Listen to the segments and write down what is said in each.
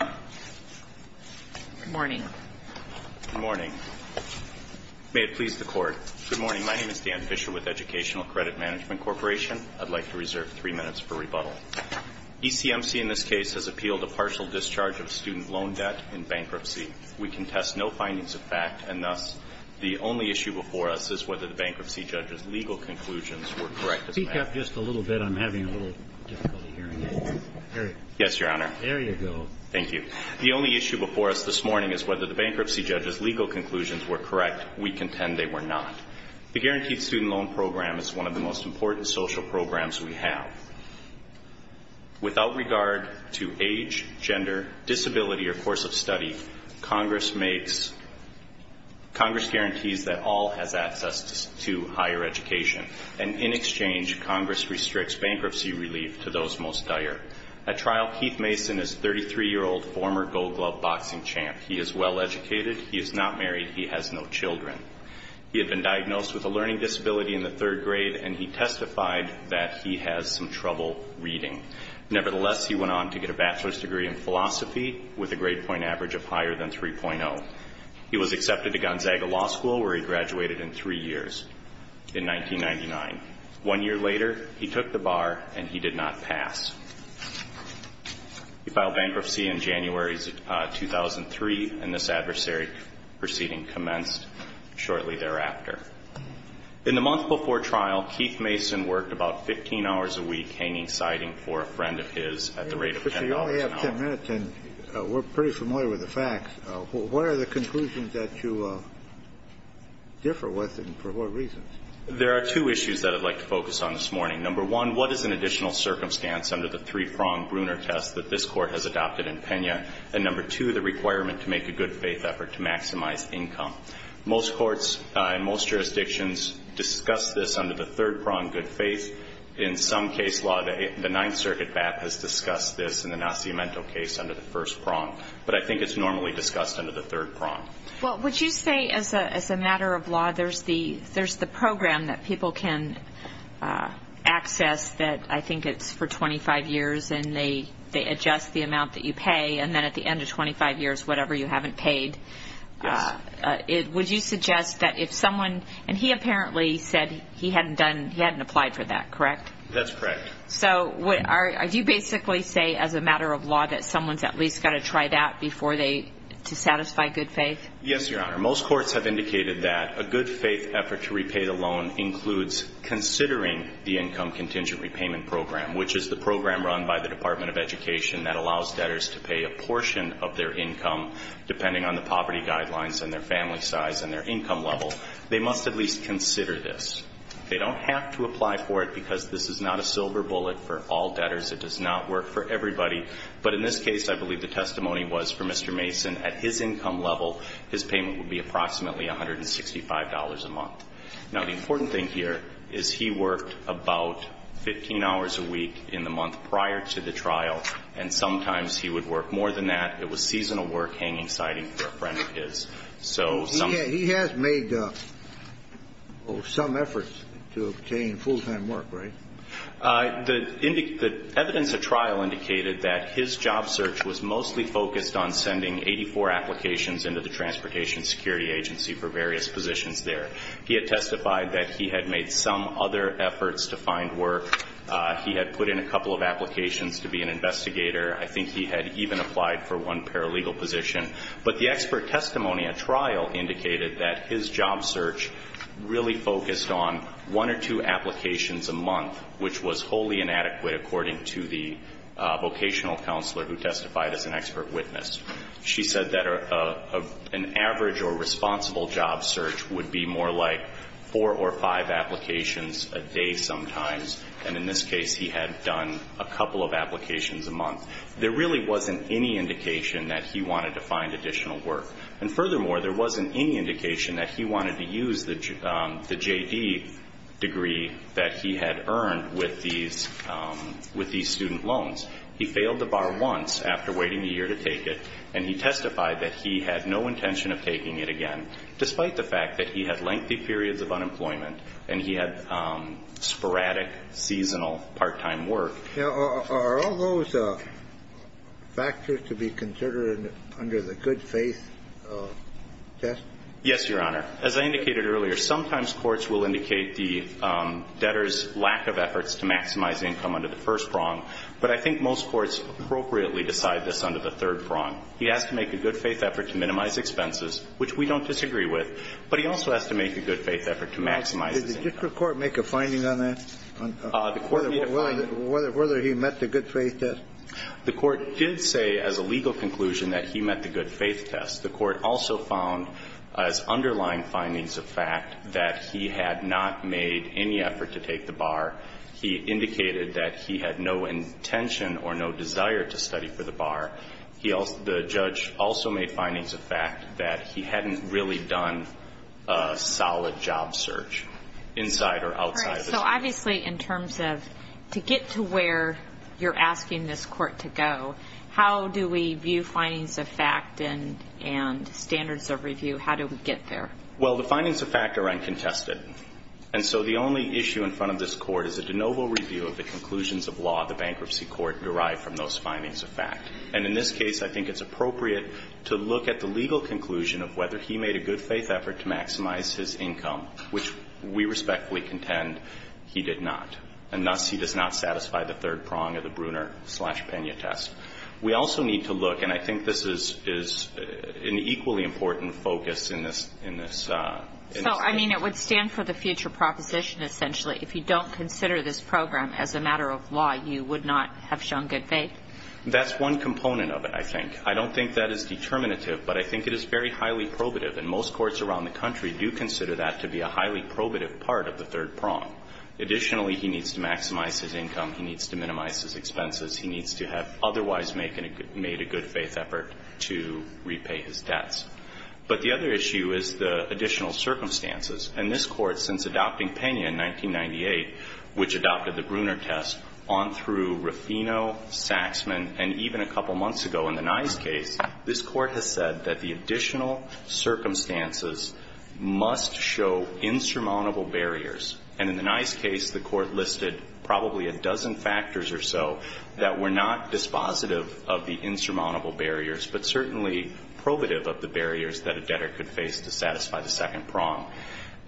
I'd like to reserve three minutes for rebuttal. ECMC in this case has appealed a partial discharge of student loan debt in bankruptcy. We contest no findings of fact, and thus, the only issue before us is whether the bankruptcy judge's legal conclusions were correct as a matter of fact. Speak up just a little bit. I'm having a little difficulty hearing it. Yes, Your Honor. There you go. Thank you. The only issue before us this morning is whether the bankruptcy judge's legal conclusions were correct. We contend they were not. The Guaranteed Student Loan Program is one of the most important social programs we have. Without regard to age, gender, disability, or course of study, Congress makes, Congress guarantees that all has access to higher education. And in exchange, Congress restricts bankruptcy relief to those most dire. At trial, Keith Mason is a 33-year-old former gold glove boxing champ. He is well educated. He is not married. He has no children. He had been diagnosed with a learning disability in the third grade, and he testified that he has some trouble reading. Nevertheless, he went on to get a bachelor's degree in philosophy with a grade point average of higher than 3.0. He was accepted to Gonzaga Law School, where he graduated in three years, in 1999. One year later, he took the bar, and he did not pass. He filed bankruptcy in January 2003, and this adversary proceeding commenced shortly thereafter. In the month before trial, Keith Mason worked about 15 hours a week hanging siding for a friend of his at the rate of $10 an hour. Kennedy, you only have 10 minutes, and we're pretty familiar with the facts. What are the conclusions that you differ with, and for what reasons? There are two issues that I'd like to focus on this morning. Number one, what is an additional circumstance under the three-pronged Bruner test that this Court has adopted in Pena? And number two, the requirement to make a good faith effort to maximize income. Most courts in most jurisdictions discuss this under the third prong, good faith. In some case law, the Ninth Circuit BAP has discussed this in the Nascimento case under the first prong, but I think it's normally discussed under the third prong. Would you say, as a matter of law, there's the program that people can access that I think it's for 25 years, and they adjust the amount that you pay, and then at the end of 25 years, whatever you haven't paid. Yes. Would you suggest that if someone, and he apparently said he hadn't applied for that, correct? That's correct. So do you basically say, as a matter of law, that someone's at least got to try that before they, to satisfy good faith? Yes, Your Honor. Most courts have indicated that a good faith effort to repay the loan includes considering the Income Contingent Repayment Program, which is the program run by the Department of Education that allows debtors to pay a portion of their income, depending on the poverty guidelines and their family size and their income level. They must at least consider this. They don't have to apply for it because this is not a silver bullet for all debtors. It does not work for everybody. But in this case, I believe the testimony was for Mr. Mason. At his income level, his payment would be approximately $165 a month. Now, the important thing here is he worked about 15 hours a week in the month prior to the trial, and sometimes he would work more than that. It was seasonal work, hanging sighting for a friend of his. So some of the ---- He has made some efforts to obtain full-time work, right? The evidence at trial indicated that his job search was mostly focused on sending 84 applications into the Transportation Security Agency for various positions there. He had testified that he had made some other efforts to find work. He had put in a couple of applications to be an investigator. I think he had even applied for one paralegal position. But the expert testimony at trial indicated that his job search really focused on one or two applications a month, which was wholly inadequate, according to the vocational counselor who testified as an expert witness. She said that an average or responsible job search would be more like four or five applications a day sometimes. And in this case, he had done a couple of applications a month. There really wasn't any indication that he wanted to find additional work. And furthermore, there wasn't any indication that he wanted to use the J.D. degree that he had earned with these student loans. He failed the bar once after waiting a year to take it, and he testified that he had no intention of taking it again, despite the fact that he had lengthy periods of unemployment and he had sporadic, seasonal, part-time work. Now, are all those factors to be considered under the good-faith test? Yes, Your Honor. As I indicated earlier, sometimes courts will indicate the debtor's lack of efforts to maximize income under the first prong, but I think most courts appropriately decide this under the third prong. He has to make a good-faith effort to minimize expenses, which we don't disagree with, but he also has to make a good-faith effort to maximize his income. Now, did the district court make a finding on that? The court made a finding. Whether he met the good-faith test? The court did say as a legal conclusion that he met the good-faith test. The court also found as underlying findings of fact that he had not made any effort to take the bar. The judge also made findings of fact that he hadn't really done a solid job search inside or outside the district. All right. So, obviously, in terms of to get to where you're asking this court to go, how do we view findings of fact and standards of review? How do we get there? Well, the findings of fact are uncontested. And so the only issue in front of this court is a de novo review of the conclusions of law the bankruptcy court derived from those findings of fact. And in this case, I think it's appropriate to look at the legal conclusion of whether he made a good-faith effort to maximize his income, which we respectfully contend he did not. And thus, he does not satisfy the third prong of the Bruner-slash-Pena test. We also need to look, and I think this is an equally important focus in this case. So, I mean, it would stand for the future proposition, essentially, if you don't consider this program as a matter of law, you would not have shown good faith? That's one component of it, I think. I don't think that is determinative, but I think it is very highly probative. And most courts around the country do consider that to be a highly probative part of the third prong. Additionally, he needs to maximize his income. He needs to minimize his expenses. He needs to have otherwise made a good-faith effort to repay his debts. But the other issue is the additional circumstances. And this Court, since adopting Pena in 1998, which adopted the Bruner test, on through Rufino, Saxman, and even a couple months ago in the Nye's case, this Court has said that the additional circumstances must show insurmountable barriers. And in the Nye's case, the Court listed probably a dozen factors or so that were not dispositive of the insurmountable barriers, but certainly probative of the barriers that a debtor could face to satisfy the second prong.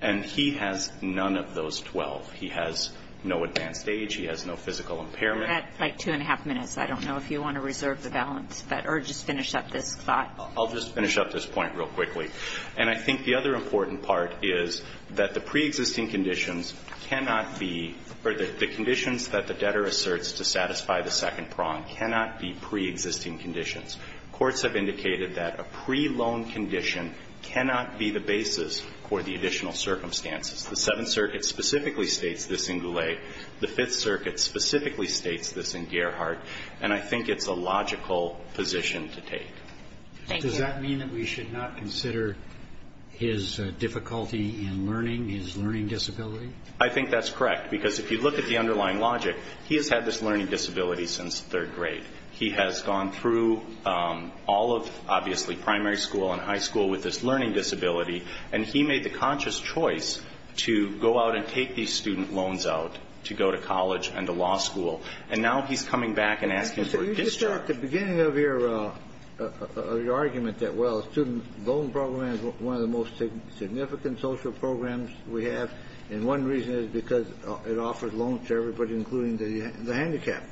And he has none of those 12. He has no advanced age. He has no physical impairment. That's like two and a half minutes. I don't know if you want to reserve the balance, or just finish up this thought. I'll just finish up this point real quickly. And I think the other important part is that the preexisting conditions cannot be or the conditions that the debtor asserts to satisfy the second prong cannot be preexisting conditions. Courts have indicated that a pre-loan condition cannot be the basis for the additional circumstances. The Seventh Circuit specifically states this in Goulet. The Fifth Circuit specifically states this in Gerhardt. And I think it's a logical position to take. Thank you. Roberts. Does that mean that we should not consider his difficulty in learning, his learning disability? I think that's correct, because if you look at the underlying logic, he has had this learning disability since third grade. He has gone through all of, obviously, primary school and high school with this learning disability. And he made the conscious choice to go out and take these student loans out to go to college and to law school. And now he's coming back and asking for a discharge. So you said at the beginning of your argument that, well, a student loan program is one of the most significant social programs we have, and one reason is because it offers loans to everybody, including the handicapped.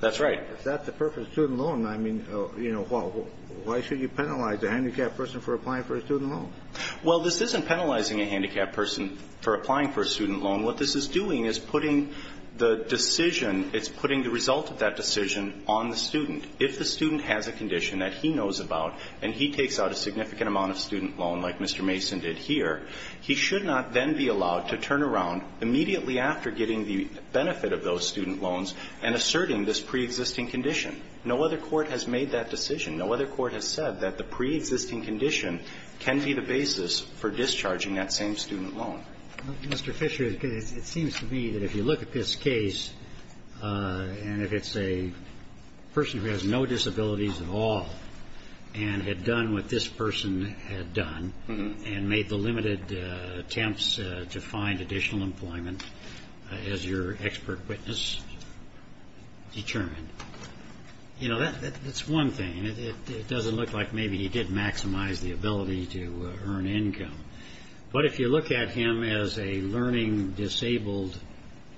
That's right. If that's the purpose of a student loan, I mean, you know, well, why should you penalize a handicapped person for applying for a student loan? Well, this isn't penalizing a handicapped person for applying for a student loan. What this is doing is putting the decision, it's putting the result of that decision on the student. If the student has a condition that he knows about and he takes out a significant amount of student loan, like Mr. Mason did here, he should not then be allowed to turn around immediately after getting the benefit of those student loans and asserting this preexisting condition. No other court has made that decision. No other court has said that the preexisting condition can be the basis for discharging that same student loan. Mr. Fisher, it seems to me that if you look at this case, and if it's a person who has no disabilities at all and had done what this person had done and made the determination, you know, that's one thing. It doesn't look like maybe he did maximize the ability to earn income. But if you look at him as a learning disabled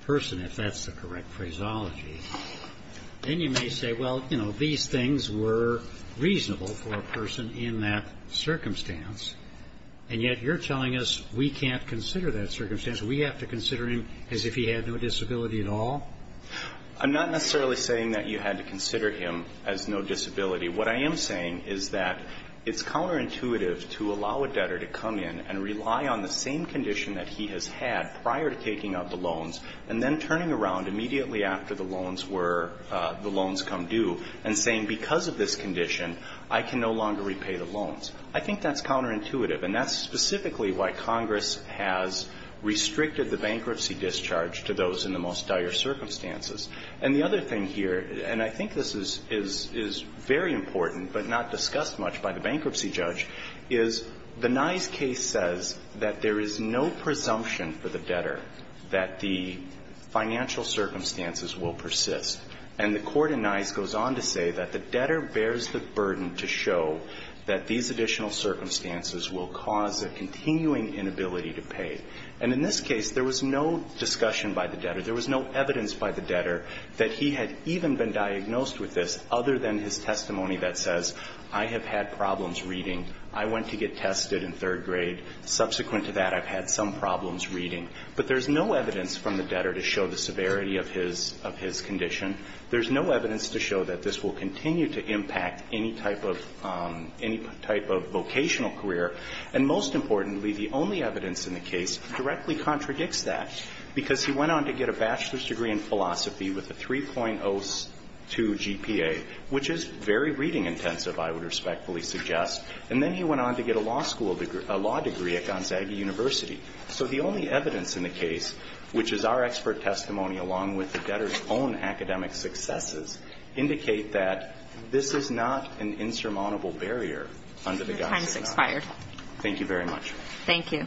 person, if that's the correct phraseology, then you may say, well, you know, these things were reasonable for a person in that circumstance, and yet you're telling us we can't consider that circumstance, we have to consider him as if he had no disability at all? I'm not necessarily saying that you had to consider him as no disability. What I am saying is that it's counterintuitive to allow a debtor to come in and rely on the same condition that he has had prior to taking out the loans and then turning around immediately after the loans were the loans come due and saying because of this condition, I can no longer repay the loans. I think that's counterintuitive, and that's specifically why Congress has restricted the bankruptcy discharge to those in the most dire circumstances. And the other thing here, and I think this is very important but not discussed much by the bankruptcy judge, is the Nye's case says that there is no presumption for the debtor that the financial circumstances will persist. And the court in Nye's goes on to say that the debtor bears the burden to show that these additional circumstances will cause a continuing inability to pay. And in this case, there was no discussion by the debtor. There was no evidence by the debtor that he had even been diagnosed with this other than his testimony that says, I have had problems reading. I went to get tested in third grade. Subsequent to that, I've had some problems reading. But there's no evidence from the debtor to show the severity of his condition. There's no evidence to show that this will continue to impact any type of vocational career. And most importantly, the only evidence in the case directly contradicts that, because he went on to get a bachelor's degree in philosophy with a 3.02 GPA, which is very reading intensive, I would respectfully suggest. And then he went on to get a law school degree at Gonzaga University. So the only evidence in the case, which is our expert testimony along with the debtor's own academic successes, indicate that this is not an insurmountable barrier under the guise of a doubt. Your time has expired. Thank you very much. Thank you.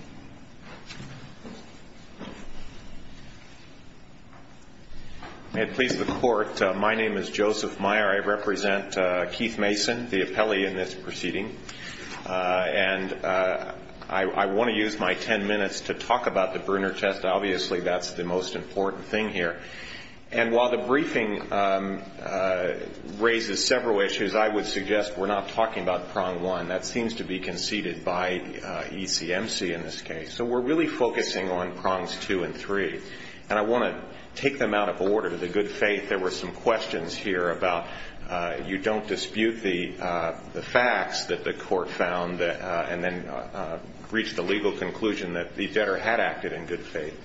May it please the Court, my name is Joseph Meyer. I represent Keith Mason, the appellee in this proceeding. And I want to use my ten minutes to talk about the Bruner test. Obviously, that's the most important thing here. And while the briefing raises several issues, I would suggest we're not talking about prong one. That seems to be conceded by ECMC in this case. So we're really focusing on prongs two and three. And I want to take them out of order. To the good faith, there were some questions here about you don't dispute the facts that the court found and then reach the legal conclusion that the debtor had acted in good faith.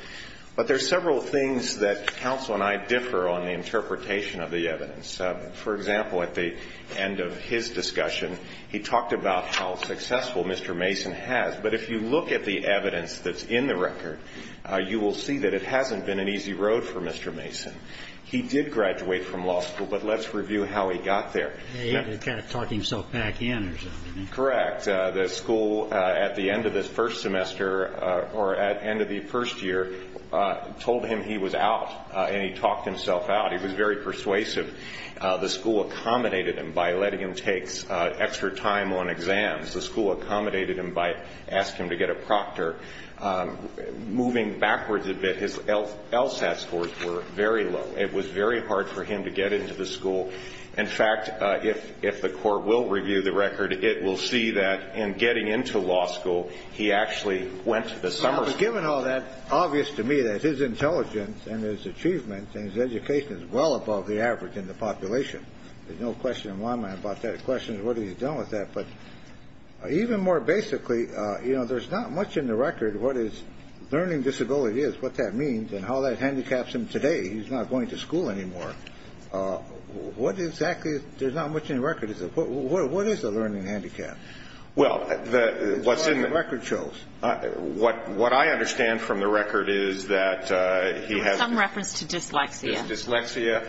But there are several things that counsel and I differ on the interpretation of the evidence. For example, at the end of his discussion, he talked about how successful Mr. Mason has. But if you look at the evidence that's in the record, you will see that it hasn't been an easy road for Mr. Mason. He did graduate from law school, but let's review how he got there. He kind of talked himself back in or something. Correct. In fact, the school at the end of the first semester or at the end of the first year told him he was out, and he talked himself out. He was very persuasive. The school accommodated him by letting him take extra time on exams. The school accommodated him by asking him to get a proctor. Moving backwards a bit, his LSAT scores were very low. It was very hard for him to get into the school. In fact, if the court will review the record, it will see that in getting into law school, he actually went to the summer school. Given all that, obvious to me that his intelligence and his achievement and his education is well above the average in the population. There's no question in my mind about that. The question is what he's done with that. But even more basically, you know, there's not much in the record what his learning disability is, what that means, and how that handicaps him today. He's not going to school anymore. There's not much in the record. What is a learning handicap as far as the record shows? What I understand from the record is that he has- Some reference to dyslexia. Dyslexia.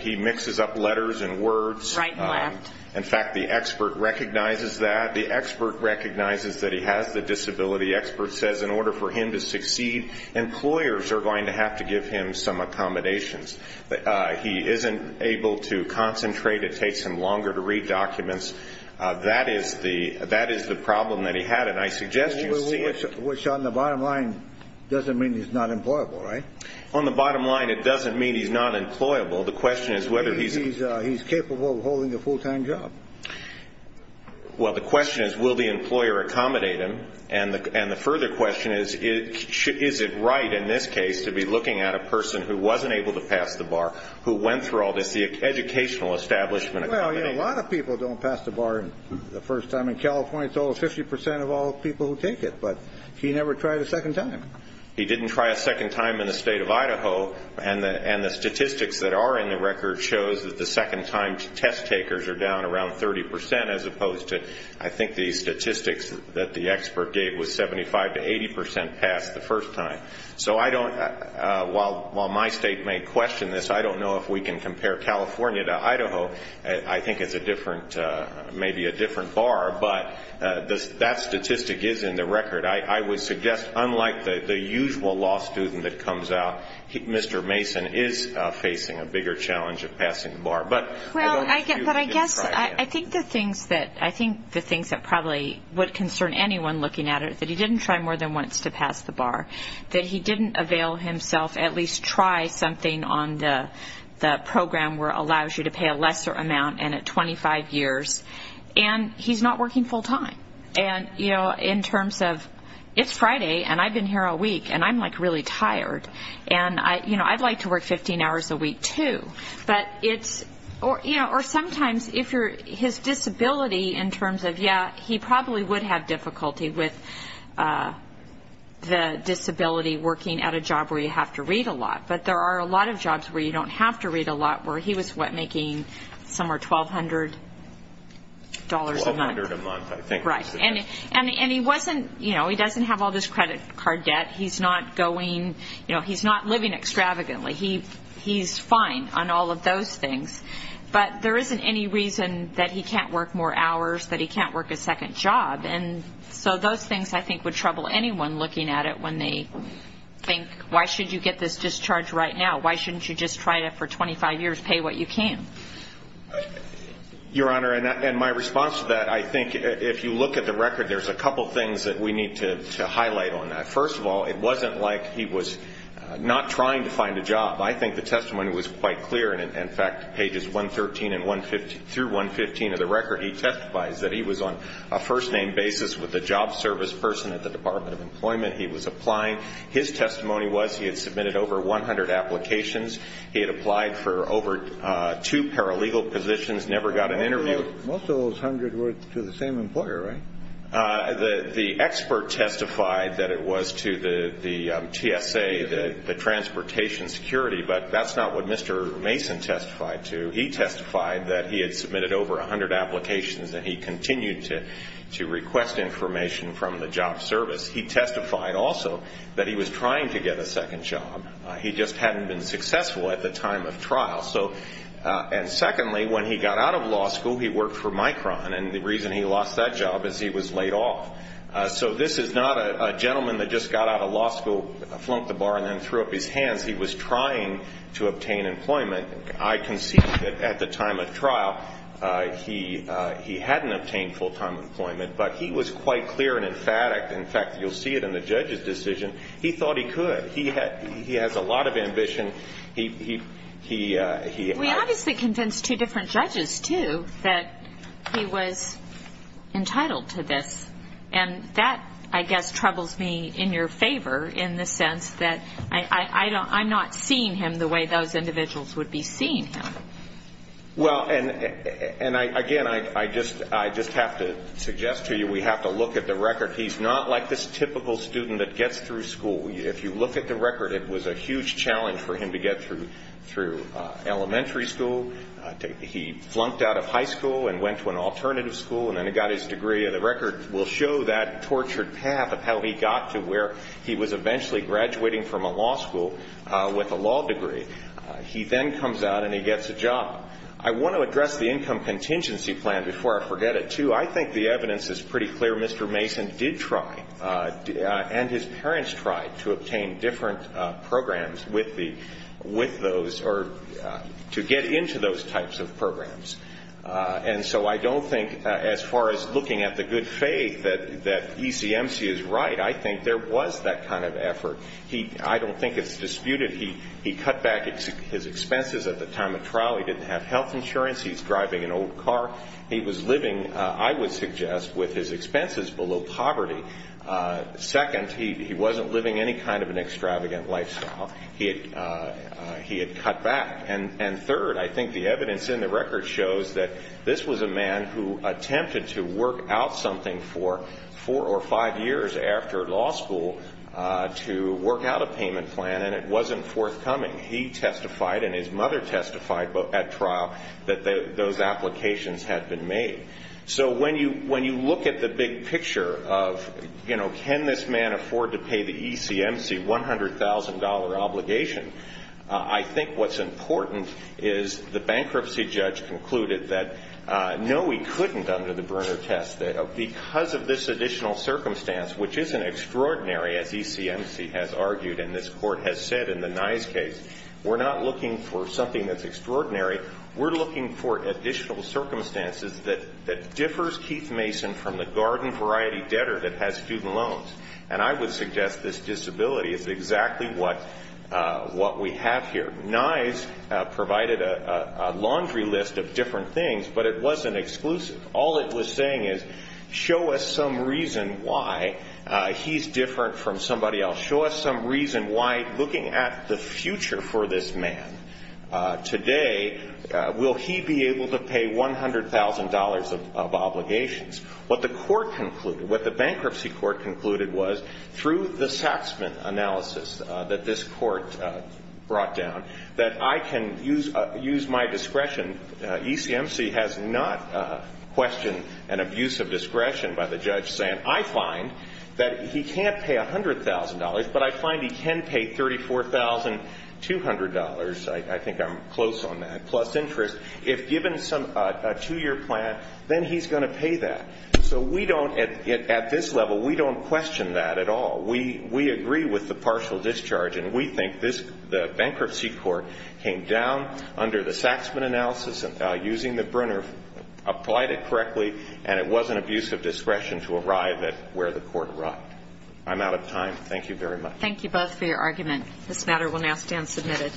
He mixes up letters and words. Right and left. In fact, the expert recognizes that. The expert recognizes that he has the disability. The expert says in order for him to succeed, employers are going to have to give him some accommodations. He isn't able to concentrate. It takes him longer to read documents. That is the problem that he had. And I suggest you see it- Which on the bottom line doesn't mean he's not employable, right? On the bottom line, it doesn't mean he's not employable. The question is whether he's- Maybe he's capable of holding a full-time job. Well, the question is will the employer accommodate him? And the further question is, is it right in this case to be looking at a person who wasn't able to pass the bar, who went through all this, the educational establishment- Well, you know, a lot of people don't pass the bar the first time. In California, it's over 50% of all people who take it. But he never tried a second time. He didn't try a second time in the state of Idaho. And the statistics that are in the record shows that the second-time test takers are down around 30%, as opposed to I think the statistics that the expert gave was 75% to 80% passed the first time. So I don't- While my state may question this, I don't know if we can compare California to Idaho. I think it's a different-maybe a different bar. But that statistic is in the record. I would suggest, unlike the usual law student that comes out, Mr. Mason is facing a bigger challenge of passing the bar. But I don't know if you- I think the things that probably would concern anyone looking at it is that he didn't try more than once to pass the bar, that he didn't avail himself, at least try something on the program where it allows you to pay a lesser amount and at 25 years. And he's not working full-time. And, you know, in terms of it's Friday, and I've been here all week, and I'm, like, really tired. And, you know, I'd like to work 15 hours a week too. But it's-or, you know, or sometimes if you're-his disability in terms of, yeah, he probably would have difficulty with the disability working at a job where you have to read a lot. But there are a lot of jobs where you don't have to read a lot, where he was, what, making somewhere $1,200 a month. $1,200 a month, I think. Right. And he wasn't-you know, he doesn't have all this credit card debt. He's not going-you know, he's not living extravagantly. He's fine on all of those things. But there isn't any reason that he can't work more hours, that he can't work a second job. And so those things, I think, would trouble anyone looking at it when they think, why should you get this discharge right now? Why shouldn't you just try it for 25 years, pay what you can? Your Honor, in my response to that, I think if you look at the record, there's a couple things that we need to highlight on that. First of all, it wasn't like he was not trying to find a job. I think the testimony was quite clear. In fact, pages 113 through 115 of the record, he testifies that he was on a first-name basis with a job service person at the Department of Employment. He was applying. His testimony was he had submitted over 100 applications. He had applied for over two paralegal positions, never got an interview. Most of those 100 were to the same employer, right? The expert testified that it was to the TSA, the Transportation Security, but that's not what Mr. Mason testified to. He testified that he had submitted over 100 applications and he continued to request information from the job service. He testified also that he was trying to get a second job. He just hadn't been successful at the time of trial. And secondly, when he got out of law school, he worked for Micron, and the reason he lost that job is he was laid off. So this is not a gentleman that just got out of law school, flunked the bar, and then threw up his hands. He was trying to obtain employment. I concede that at the time of trial, he hadn't obtained full-time employment, but he was quite clear and emphatic. In fact, you'll see it in the judge's decision. He has a lot of ambition. We obviously convinced two different judges, too, that he was entitled to this, and that, I guess, troubles me in your favor in the sense that I'm not seeing him the way those individuals would be seeing him. Well, and again, I just have to suggest to you we have to look at the record. He's not like this typical student that gets through school. If you look at the record, it was a huge challenge for him to get through elementary school. He flunked out of high school and went to an alternative school, and then he got his degree. And the record will show that tortured path of how he got to where he was eventually graduating from a law school with a law degree. He then comes out, and he gets a job. I want to address the income contingency plan before I forget it, too. I think the evidence is pretty clear. Mr. Mason did try, and his parents tried, to obtain different programs with those or to get into those types of programs. And so I don't think, as far as looking at the good faith, that ECMC is right. I think there was that kind of effort. I don't think it's disputed. He cut back his expenses at the time of trial. He didn't have health insurance. He's driving an old car. He was living, I would suggest, with his expenses below poverty. Second, he wasn't living any kind of an extravagant lifestyle. He had cut back. And third, I think the evidence in the record shows that this was a man who attempted to work out something for four or five years after law school to work out a payment plan, and it wasn't forthcoming. He testified and his mother testified at trial that those applications had been made. So when you look at the big picture of, you know, can this man afford to pay the ECMC $100,000 obligation, I think what's important is the bankruptcy judge concluded that, no, he couldn't under the Brunner test. Because of this additional circumstance, which isn't extraordinary, as ECMC has argued and this Court has said in the Nye's case, we're not looking for something that's extraordinary. We're looking for additional circumstances that differs Keith Mason from the garden variety debtor that has student loans. And I would suggest this disability is exactly what we have here. Nye's provided a laundry list of different things, but it wasn't exclusive. All it was saying is, show us some reason why he's different from somebody else. Show us some reason why, looking at the future for this man today, will he be able to pay $100,000 of obligations. What the court concluded, what the bankruptcy court concluded was, through the Saxman analysis that this court brought down, that I can use my discretion. ECMC has not questioned an abuse of discretion by the judge saying, I find that he can't pay $100,000, but I find he can pay $34,200. I think I'm close on that, plus interest. If given a two-year plan, then he's going to pay that. So we don't, at this level, we don't question that at all. We agree with the partial discharge, and we think the bankruptcy court came down under the Saxman analysis, using the Brunner, applied it correctly, and it was an abuse of discretion to arrive at where the court arrived. I'm out of time. Thank you very much. Thank you both for your argument. This matter will now stand submitted.